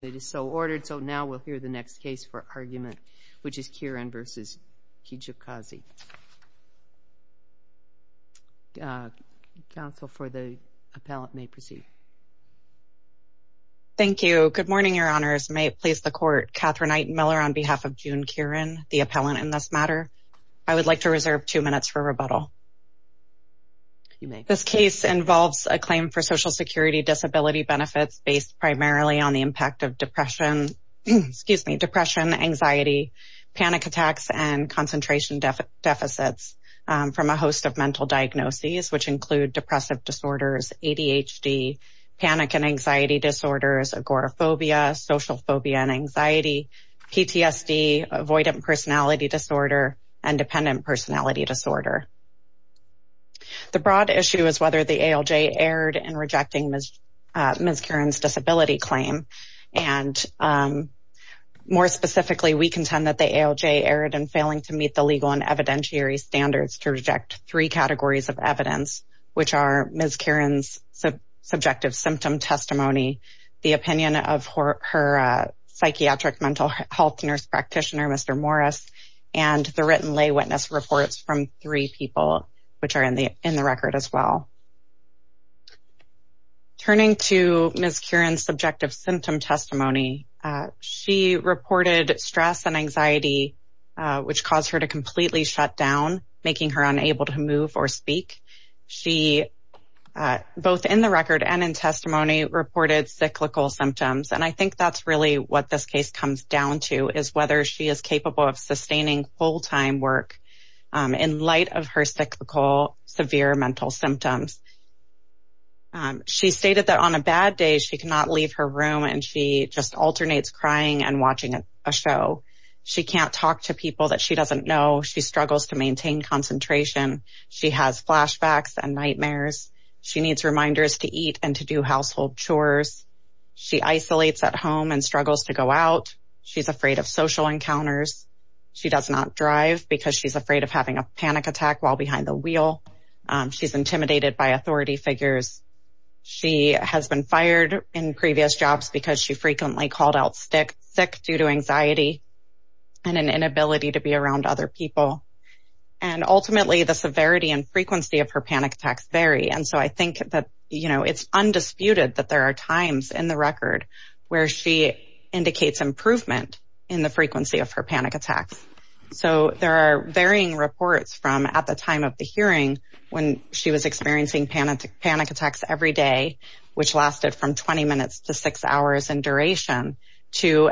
It is so ordered, so now we'll hear the next case for argument, which is Kiran v. Kijakazi. Counsel for the appellant may proceed. Thank you. Good morning, Your Honors. May it please the Court. Catherine A. Miller on behalf of June Kiran, the appellant in this matter. I would like to reserve two minutes for rebuttal. This case involves a claim for Social Security disability benefits based primarily on the depression, anxiety, panic attacks, and concentration deficits from a host of mental diagnoses, which include depressive disorders, ADHD, panic and anxiety disorders, agoraphobia, social phobia and anxiety, PTSD, avoidant personality disorder, and dependent personality disorder. The broad issue is whether the ALJ erred in rejecting Ms. Kiran's disability claim, and more specifically, we contend that the ALJ erred in failing to meet the legal and evidentiary standards to reject three categories of evidence, which are Ms. Kiran's subjective symptom testimony, the opinion of her psychiatric mental health nurse practitioner, Mr. Morris, and the written lay witness reports from three people, which are in the record as well. Turning to Ms. Kiran's subjective symptom testimony, she reported stress and anxiety, which caused her to completely shut down, making her unable to move or speak. She both in the record and in testimony reported cyclical symptoms, and I think that's really what this case comes down to, is whether she is capable of sustaining full-time work in light of her cyclical severe mental symptoms. She stated that on a bad day, she cannot leave her room, and she just alternates crying and watching a show. She can't talk to people that she doesn't know. She struggles to maintain concentration. She has flashbacks and nightmares. She needs reminders to eat and to do household chores. She isolates at home and struggles to go out. She's afraid of social encounters. She does not drive because she's afraid of having a panic attack while behind the wheel. She's intimidated by authority figures. She has been fired in previous jobs because she frequently called out sick due to anxiety and an inability to be around other people, and ultimately, the severity and frequency of her panic attacks vary, and so I think that it's undisputed that there are times in the record where she indicates improvement in the frequency of her panic attacks. So there are varying reports from at the time of the hearing when she was experiencing panic attacks every day, which lasted from 20 minutes to six hours in duration, to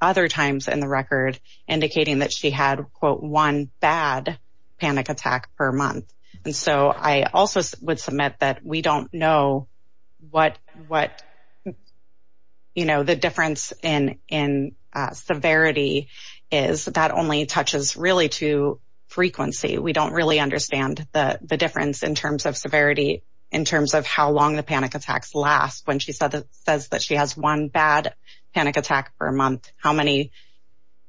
other times in the record indicating that she had, quote, one bad panic attack per month. And so I also would submit that we don't know what, you know, the difference in severity is that only touches really to frequency. We don't really understand the difference in terms of severity, in terms of how long the panic attacks last. When she says that she has one bad panic attack per month, how many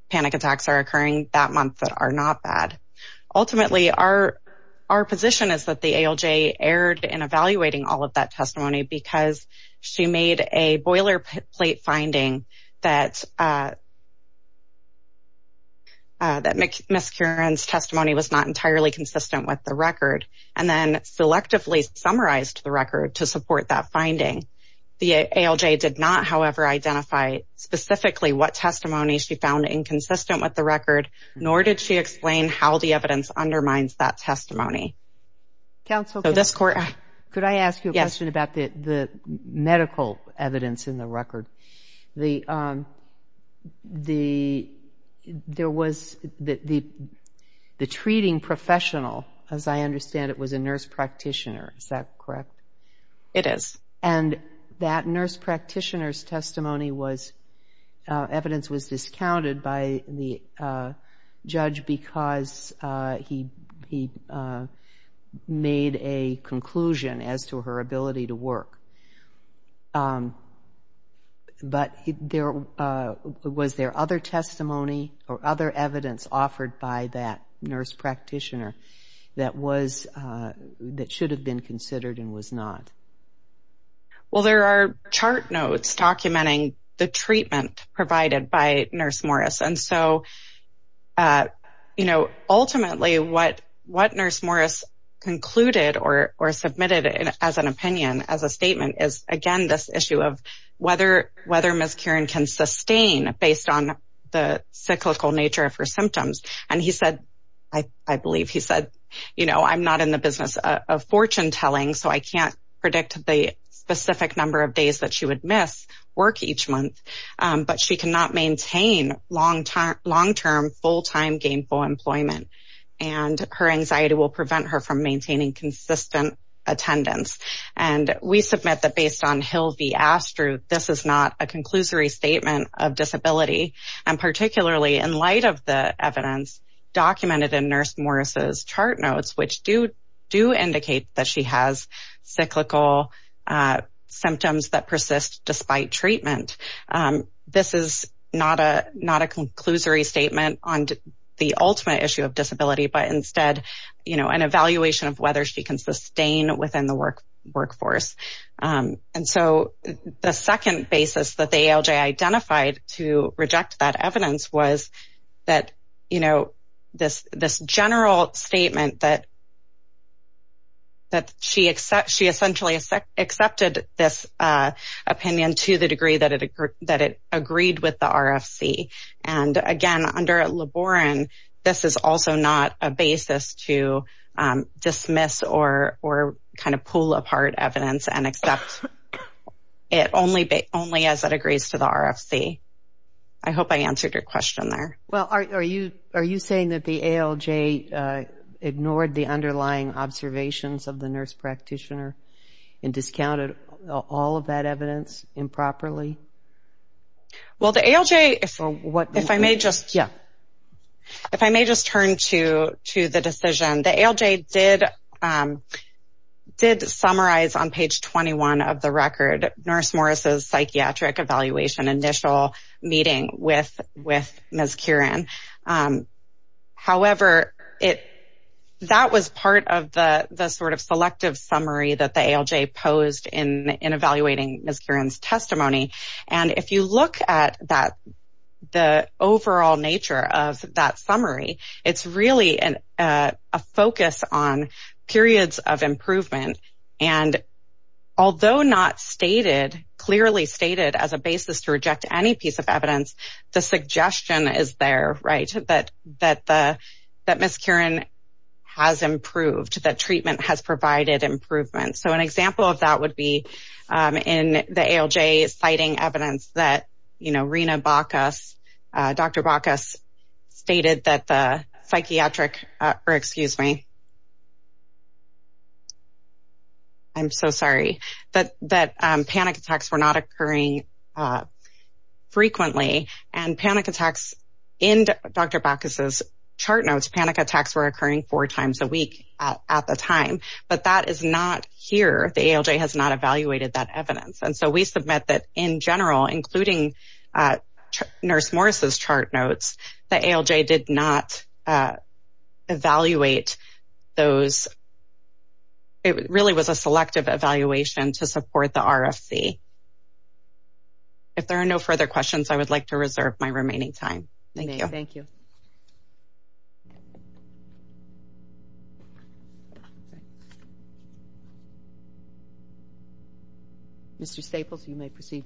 panic attacks are occurring that month that are not bad? Ultimately, our position is that the ALJ erred in evaluating all of that testimony because she made a boilerplate finding that Ms. Curran's testimony was not entirely consistent with the record, and then selectively summarized the record to support that finding. The ALJ did not, however, identify specifically what testimony she found inconsistent with the record, nor did she explain how the evidence undermines that testimony. So this court... Could I ask you a question about the medical evidence in the record? There was the treating professional, as I understand it, was a nurse practitioner, is that correct? It is. And that nurse practitioner's testimony was... Evidence was discounted by the judge because he made a conclusion as to her ability to work. But was there other testimony or other evidence offered by that nurse practitioner that should have been considered and was not? Well, there are chart notes documenting the treatment provided by Nurse Morris. And so, ultimately, what Nurse Morris concluded or submitted as an opinion, as a statement, is again this issue of whether Ms. Curran can sustain based on the cyclical nature of her symptoms. And he said, I believe he said, you know, I'm not in the business of fortune telling, so I can't predict the specific number of days that she would miss work each month. But she cannot maintain long-term, full-time gainful employment. And her anxiety will prevent her from maintaining consistent attendance. And we submit that based on Hill v. Astruth, this is not a conclusory statement of disability. And particularly in light of the evidence documented in Nurse Morris's chart notes, which do indicate that she has cyclical symptoms that persist despite treatment. This is not a conclusory statement on the ultimate issue of disability, but instead, you know, an evaluation of whether she can sustain within the workforce. And so, the second basis that the ALJ identified to reject that evidence was that, you know, this general statement that she essentially accepted this opinion to the degree that it agreed with the RFC. And again, under LeBaron, this is also not a basis to dismiss or kind of pull apart evidence and accept it only as it agrees to the RFC. I hope I answered your question there. Well, are you saying that the ALJ ignored the underlying observations of the nurse practitioner and discounted all of that evidence improperly? Well, the ALJ, if I may just turn to the decision, the ALJ did summarize on paper page 21 of the record, Nurse Morris's psychiatric evaluation initial meeting with Ms. Kieran. However, that was part of the sort of selective summary that the ALJ posed in evaluating Ms. Kieran's testimony. And if you look at that, the overall nature of that summary, it's really a focus on periods of improvement. And although not stated, clearly stated as a basis to reject any piece of evidence, the suggestion is there, right, that Ms. Kieran has improved, that treatment has provided improvement. So, an example of that would be in the ALJ citing evidence that, you know, Rena Bacchus, Dr. Bacchus stated that the psychiatric, or excuse me, I'm so sorry, that panic attacks were not occurring frequently. And panic attacks in Dr. Bacchus's chart notes, panic attacks were occurring four times a week at the time. But that is not here, the ALJ has not evaluated that evidence. And so, we submit that in general, including Nurse Morris's chart notes, the ALJ did not evaluate those. It really was a selective evaluation to support the RFC. If there are no further questions, I would like to reserve my remaining time. Thank you. Thank you. Thank you. Mr. Staples, you may proceed.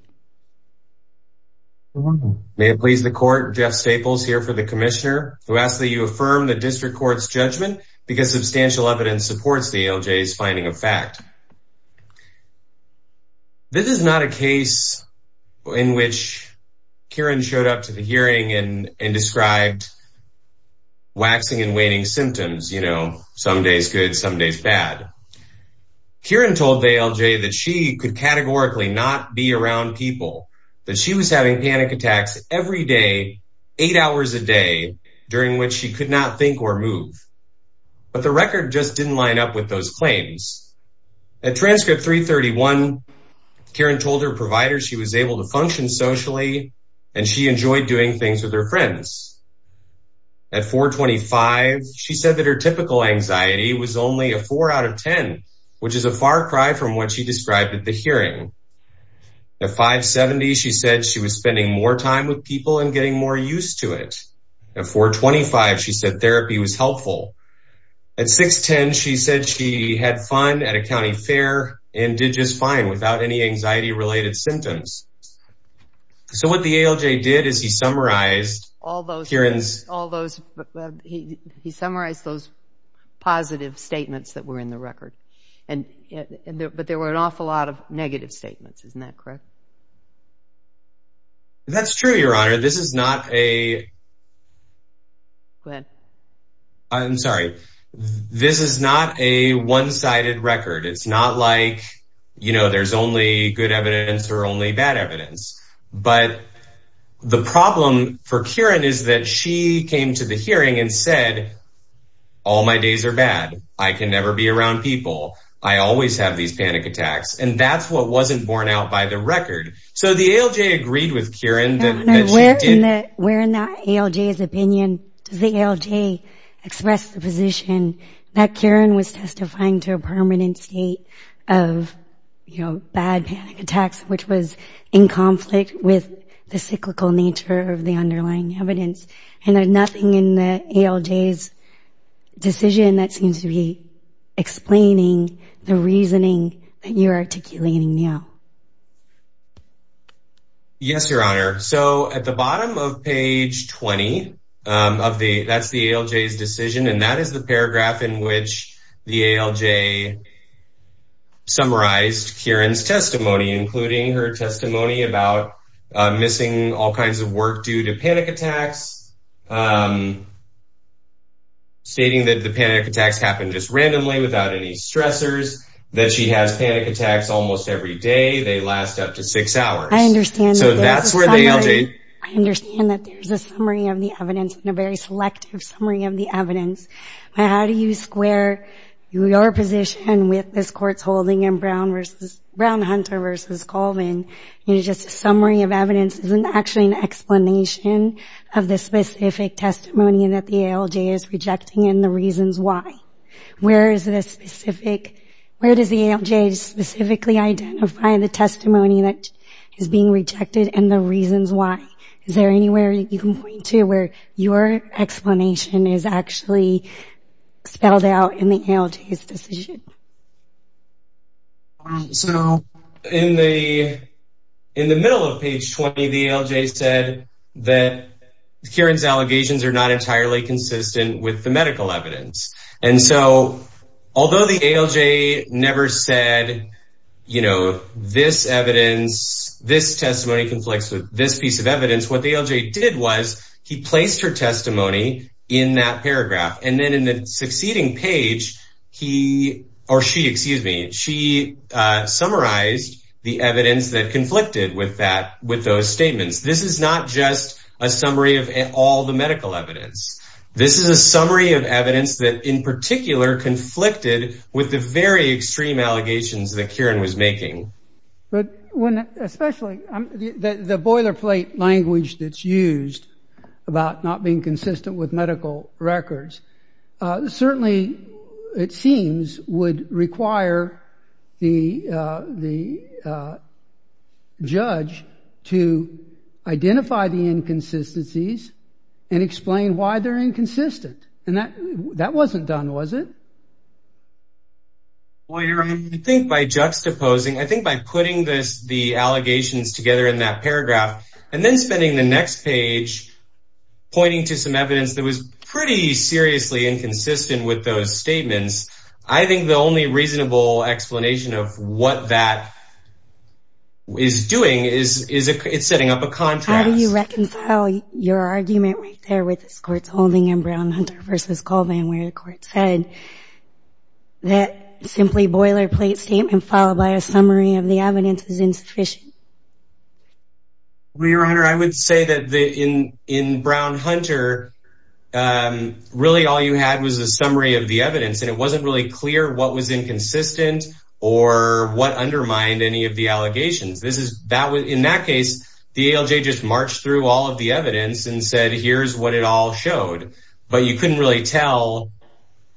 You're welcome. May it please the Court, Jeff Staples here for the Commissioner, who asks that you affirm the District Court's judgment, because substantial evidence supports the ALJ's finding of fact. This is not a case in which Kieran showed up to the hearing and described waxing and waning symptoms, you know, some days good, some days bad. Kieran told the ALJ that she could categorically not be around people, that she was having panic attacks every day, eight hours a day, during which she could not think or move. But the record just didn't line up with those claims. At transcript 331, Kieran told her provider she was able to function socially and she enjoyed doing things with her friends. At 425, she said that her typical anxiety was only a 4 out of 10, which is a far cry from what she described at the hearing. At 570, she said she was spending more time with people and getting more used to it. At 425, she said therapy was helpful. At 610, she said she had fun at a county fair and did just fine without any anxiety-related symptoms. So what the ALJ did is he summarized Kieran's... All those... He summarized those positive statements that were in the record. But there were an awful lot of negative statements, isn't that correct? That's true, Your Honor. This is not a... Go ahead. I'm sorry. This is not a one-sided record. It's not like there's only good evidence or only bad evidence. But the problem for Kieran is that she came to the hearing and said, all my days are bad. I can never be around people. I always have these panic attacks. And that's what wasn't borne out by the record. So the ALJ agreed with Kieran that she did... Where in the ALJ's opinion does the ALJ express the position that Kieran was testifying to a permanent state of bad panic attacks, which was in conflict with the cyclical nature of the underlying evidence? And there's nothing in the ALJ's decision that seems to be explaining the reasoning that you're articulating now. Yes, Your Honor. So at the bottom of page 20 of the... That's the ALJ's decision. And that is the paragraph in which the ALJ summarized Kieran's testimony, including her testimony about missing all kinds of work due to panic attacks, stating that the panic attacks almost every day, they last up to six hours. I understand that. So that's where the ALJ... I understand that there's a summary of the evidence and a very selective summary of the evidence. But how do you square your position with this court's holding in Brown vs. Hunter vs. Colvin? Just a summary of evidence isn't actually an explanation of the specific testimony that the ALJ is rejecting and the reasons why. Where is the specific... Where does the ALJ specifically identify the testimony that is being rejected and the reasons why? Is there anywhere you can point to where your explanation is actually spelled out in the ALJ's decision? So in the middle of page 20, the ALJ said that Kieran's allegations are not entirely consistent with the medical evidence. And so although the ALJ never said, you know, this evidence, this testimony conflicts with this piece of evidence, what the ALJ did was he placed her testimony in that paragraph. And then in the succeeding page, he or she, excuse me, she summarized the evidence that conflicted with that, with those statements. This is not just a summary of all the medical evidence. This is a summary of evidence that in particular conflicted with the very extreme allegations that Kieran was making. But when, especially the boilerplate language that's used about not being consistent with medical records, certainly it seems would require the judge to identify the inconsistencies and explain why they're inconsistent. And that wasn't done, was it? Well, I think by juxtaposing, I think by putting this, the allegations together in that paragraph and then spending the next page pointing to some evidence that was pretty seriously inconsistent with those statements, I think the only reasonable explanation of what that is doing is it's setting up a contrast. How do you reconcile your argument right there with this court's holding in Brown-Hunter v. Colvin, where the court said that simply boilerplate statement followed by a summary of the evidence is insufficient? Well, Your Honor, I would say that in Brown-Hunter, really all you had was a summary of the evidence and it wasn't really clear what was inconsistent or what undermined any of the allegations. In that case, the ALJ just marched through all of the evidence and said, here's what it all showed. But you couldn't really tell,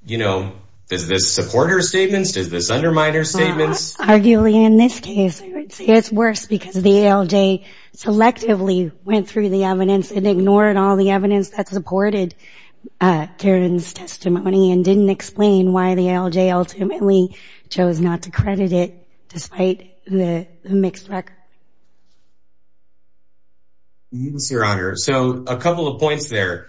you know, is this supporter statements, is this underminer statements? Arguably, in this case, I would say it's worse because the ALJ selectively went through the evidence and ignored all the evidence that supported Karen's testimony and didn't explain why the ALJ ultimately chose not to credit it despite the mixed record. Yes, Your Honor. So a couple of points there.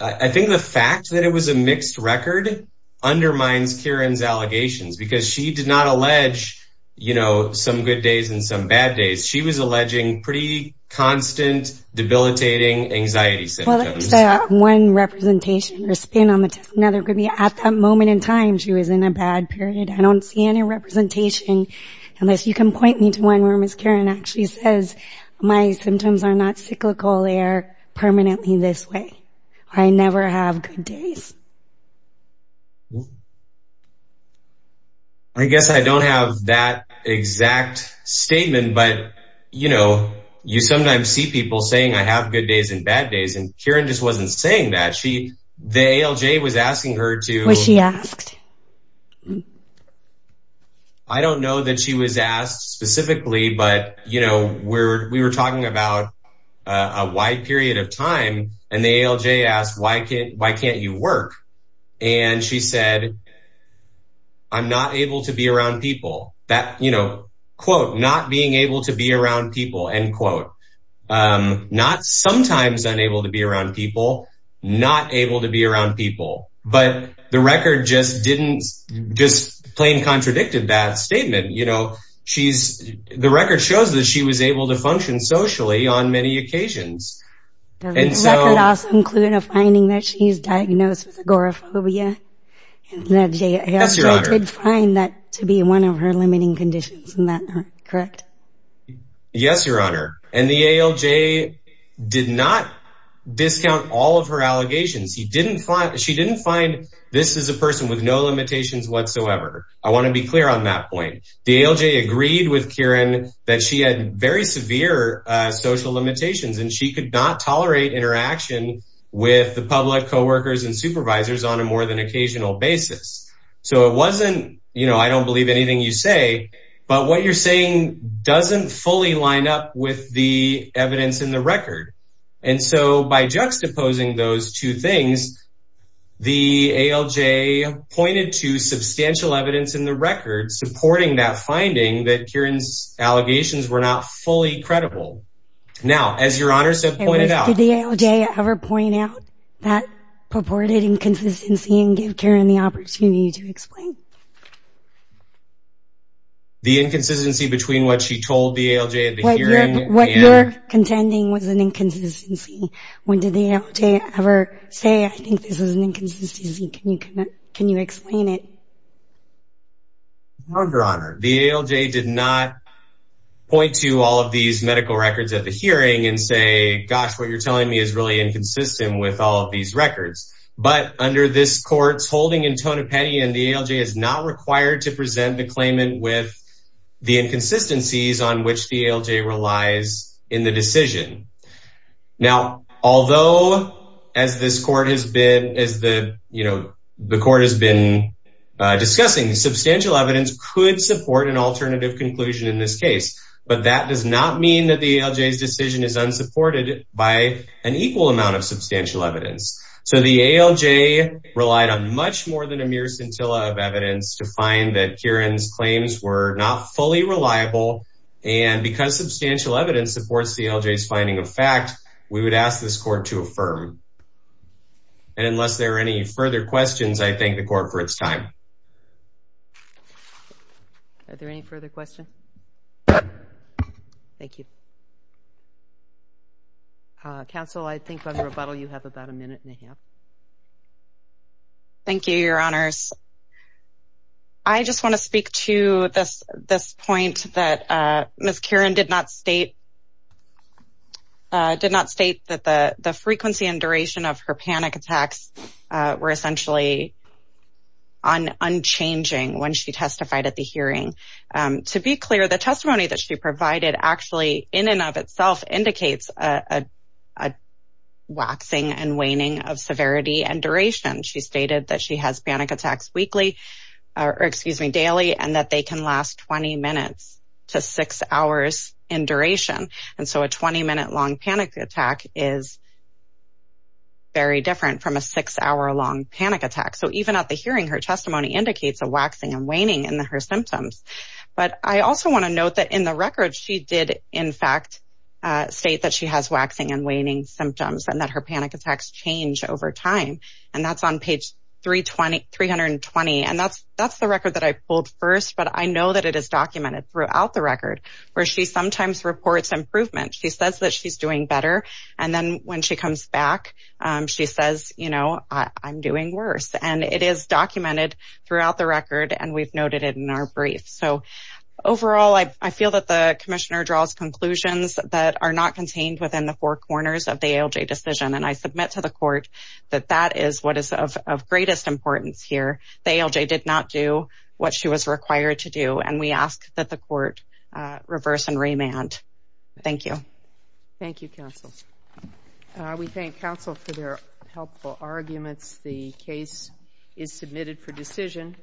I think the fact that it was a mixed record undermines Karen's allegations because she did not allege, you know, some good days and some bad days. She was alleging pretty constant debilitating anxiety symptoms. Well, there's that one representation or spin on the testimony, at that moment in time she was in a bad period. I don't see any representation, unless you can point me to one where Ms. Karen actually says, my symptoms are not cyclical, they are permanently this way. I never have good days. I guess I don't have that exact statement, but, you know, you sometimes see people saying I have good days and bad days, and Karen just wasn't saying that, the ALJ was asking her to... Was she asked? I don't know that she was asked specifically, but, you know, we were talking about a wide period of time and the ALJ asked, why can't you work? And she said, I'm not able to be around people that, you know, quote, not being able to be around people, not sometimes unable to be around people, not able to be around people. But the record just didn't, just plain contradicted that statement. You know, she's, the record shows that she was able to function socially on many occasions. The record also included a finding that she's diagnosed with agoraphobia, and the ALJ did find that to be one of her limiting conditions, correct? Yes, Your Honor. And the ALJ did not discount all of her allegations. She didn't find this is a person with no limitations whatsoever. I want to be clear on that point. The ALJ agreed with Karen that she had very severe social limitations and she could not tolerate interaction with the public, coworkers and supervisors on a more than occasional basis. So it wasn't, you know, I don't believe anything you say, but what you're saying is true. It doesn't fully line up with the evidence in the record. And so by juxtaposing those two things, the ALJ pointed to substantial evidence in the record supporting that finding that Karen's allegations were not fully credible. Now, as Your Honor said, pointed out, did the ALJ ever point out that purported inconsistency and give Karen the opportunity to explain? The inconsistency between what she told the ALJ at the hearing and... What you're contending was an inconsistency. When did the ALJ ever say, I think this is an inconsistency, can you explain it? No, Your Honor. The ALJ did not point to all of these medical records at the hearing and say, gosh, what you're telling me is really inconsistent with all of these records. But under this court's holding in Tonopetty and the ALJ is not required to present the claimant with the inconsistencies on which the ALJ relies in the decision. Now, although as this court has been, as the, you know, the court has been discussing substantial evidence could support an alternative conclusion in this case, but that does not mean that the ALJ's decision is unsupported by an equal amount of substantial evidence. So the ALJ relied on much more than a mere scintilla of evidence to find that Karen's claims were not fully reliable. And because substantial evidence supports the ALJ's finding of fact, we would ask this court to affirm. And unless there are any further questions, I thank the court for its time. Are there any further questions? Thank you. Counsel, I think under rebuttal you have about a minute and a half. Thank you, Your Honors. I just want to speak to this point that Ms. Karen did not state that the frequency and duration of her panic attacks were essentially unchanging when she testified at the hearing. To be clear, the testimony that she provided actually in and of itself indicates a waxing and waning of severity and duration. She stated that she has panic attacks weekly, or excuse me, daily, and that they can last 20 minutes to six hours in duration. And so a 20 minute long panic attack is very different from a six hour long panic attack. So even at the hearing, her testimony indicates a waxing and waning in her symptoms. But I also want to note that in the record, she did in fact state that she has waxing and waning symptoms and that her panic attacks change over time. And that's on page 320. And that's the record that I pulled first, but I know that it is documented throughout the record where she sometimes reports improvement. She says that she's doing better, and then when she comes back, she says, you know, I'm doing worse. And it is documented throughout the record, and we've noted it in our brief. So overall, I feel that the commissioner draws conclusions that are not contained within the four corners of the ALJ decision. And I submit to the court that that is what is of greatest importance here. The ALJ did not do what she was required to do, and we ask that the court reverse and remand. Thank you. Thank you, counsel. We thank counsel for their helpful arguments. The case is submitted for decision.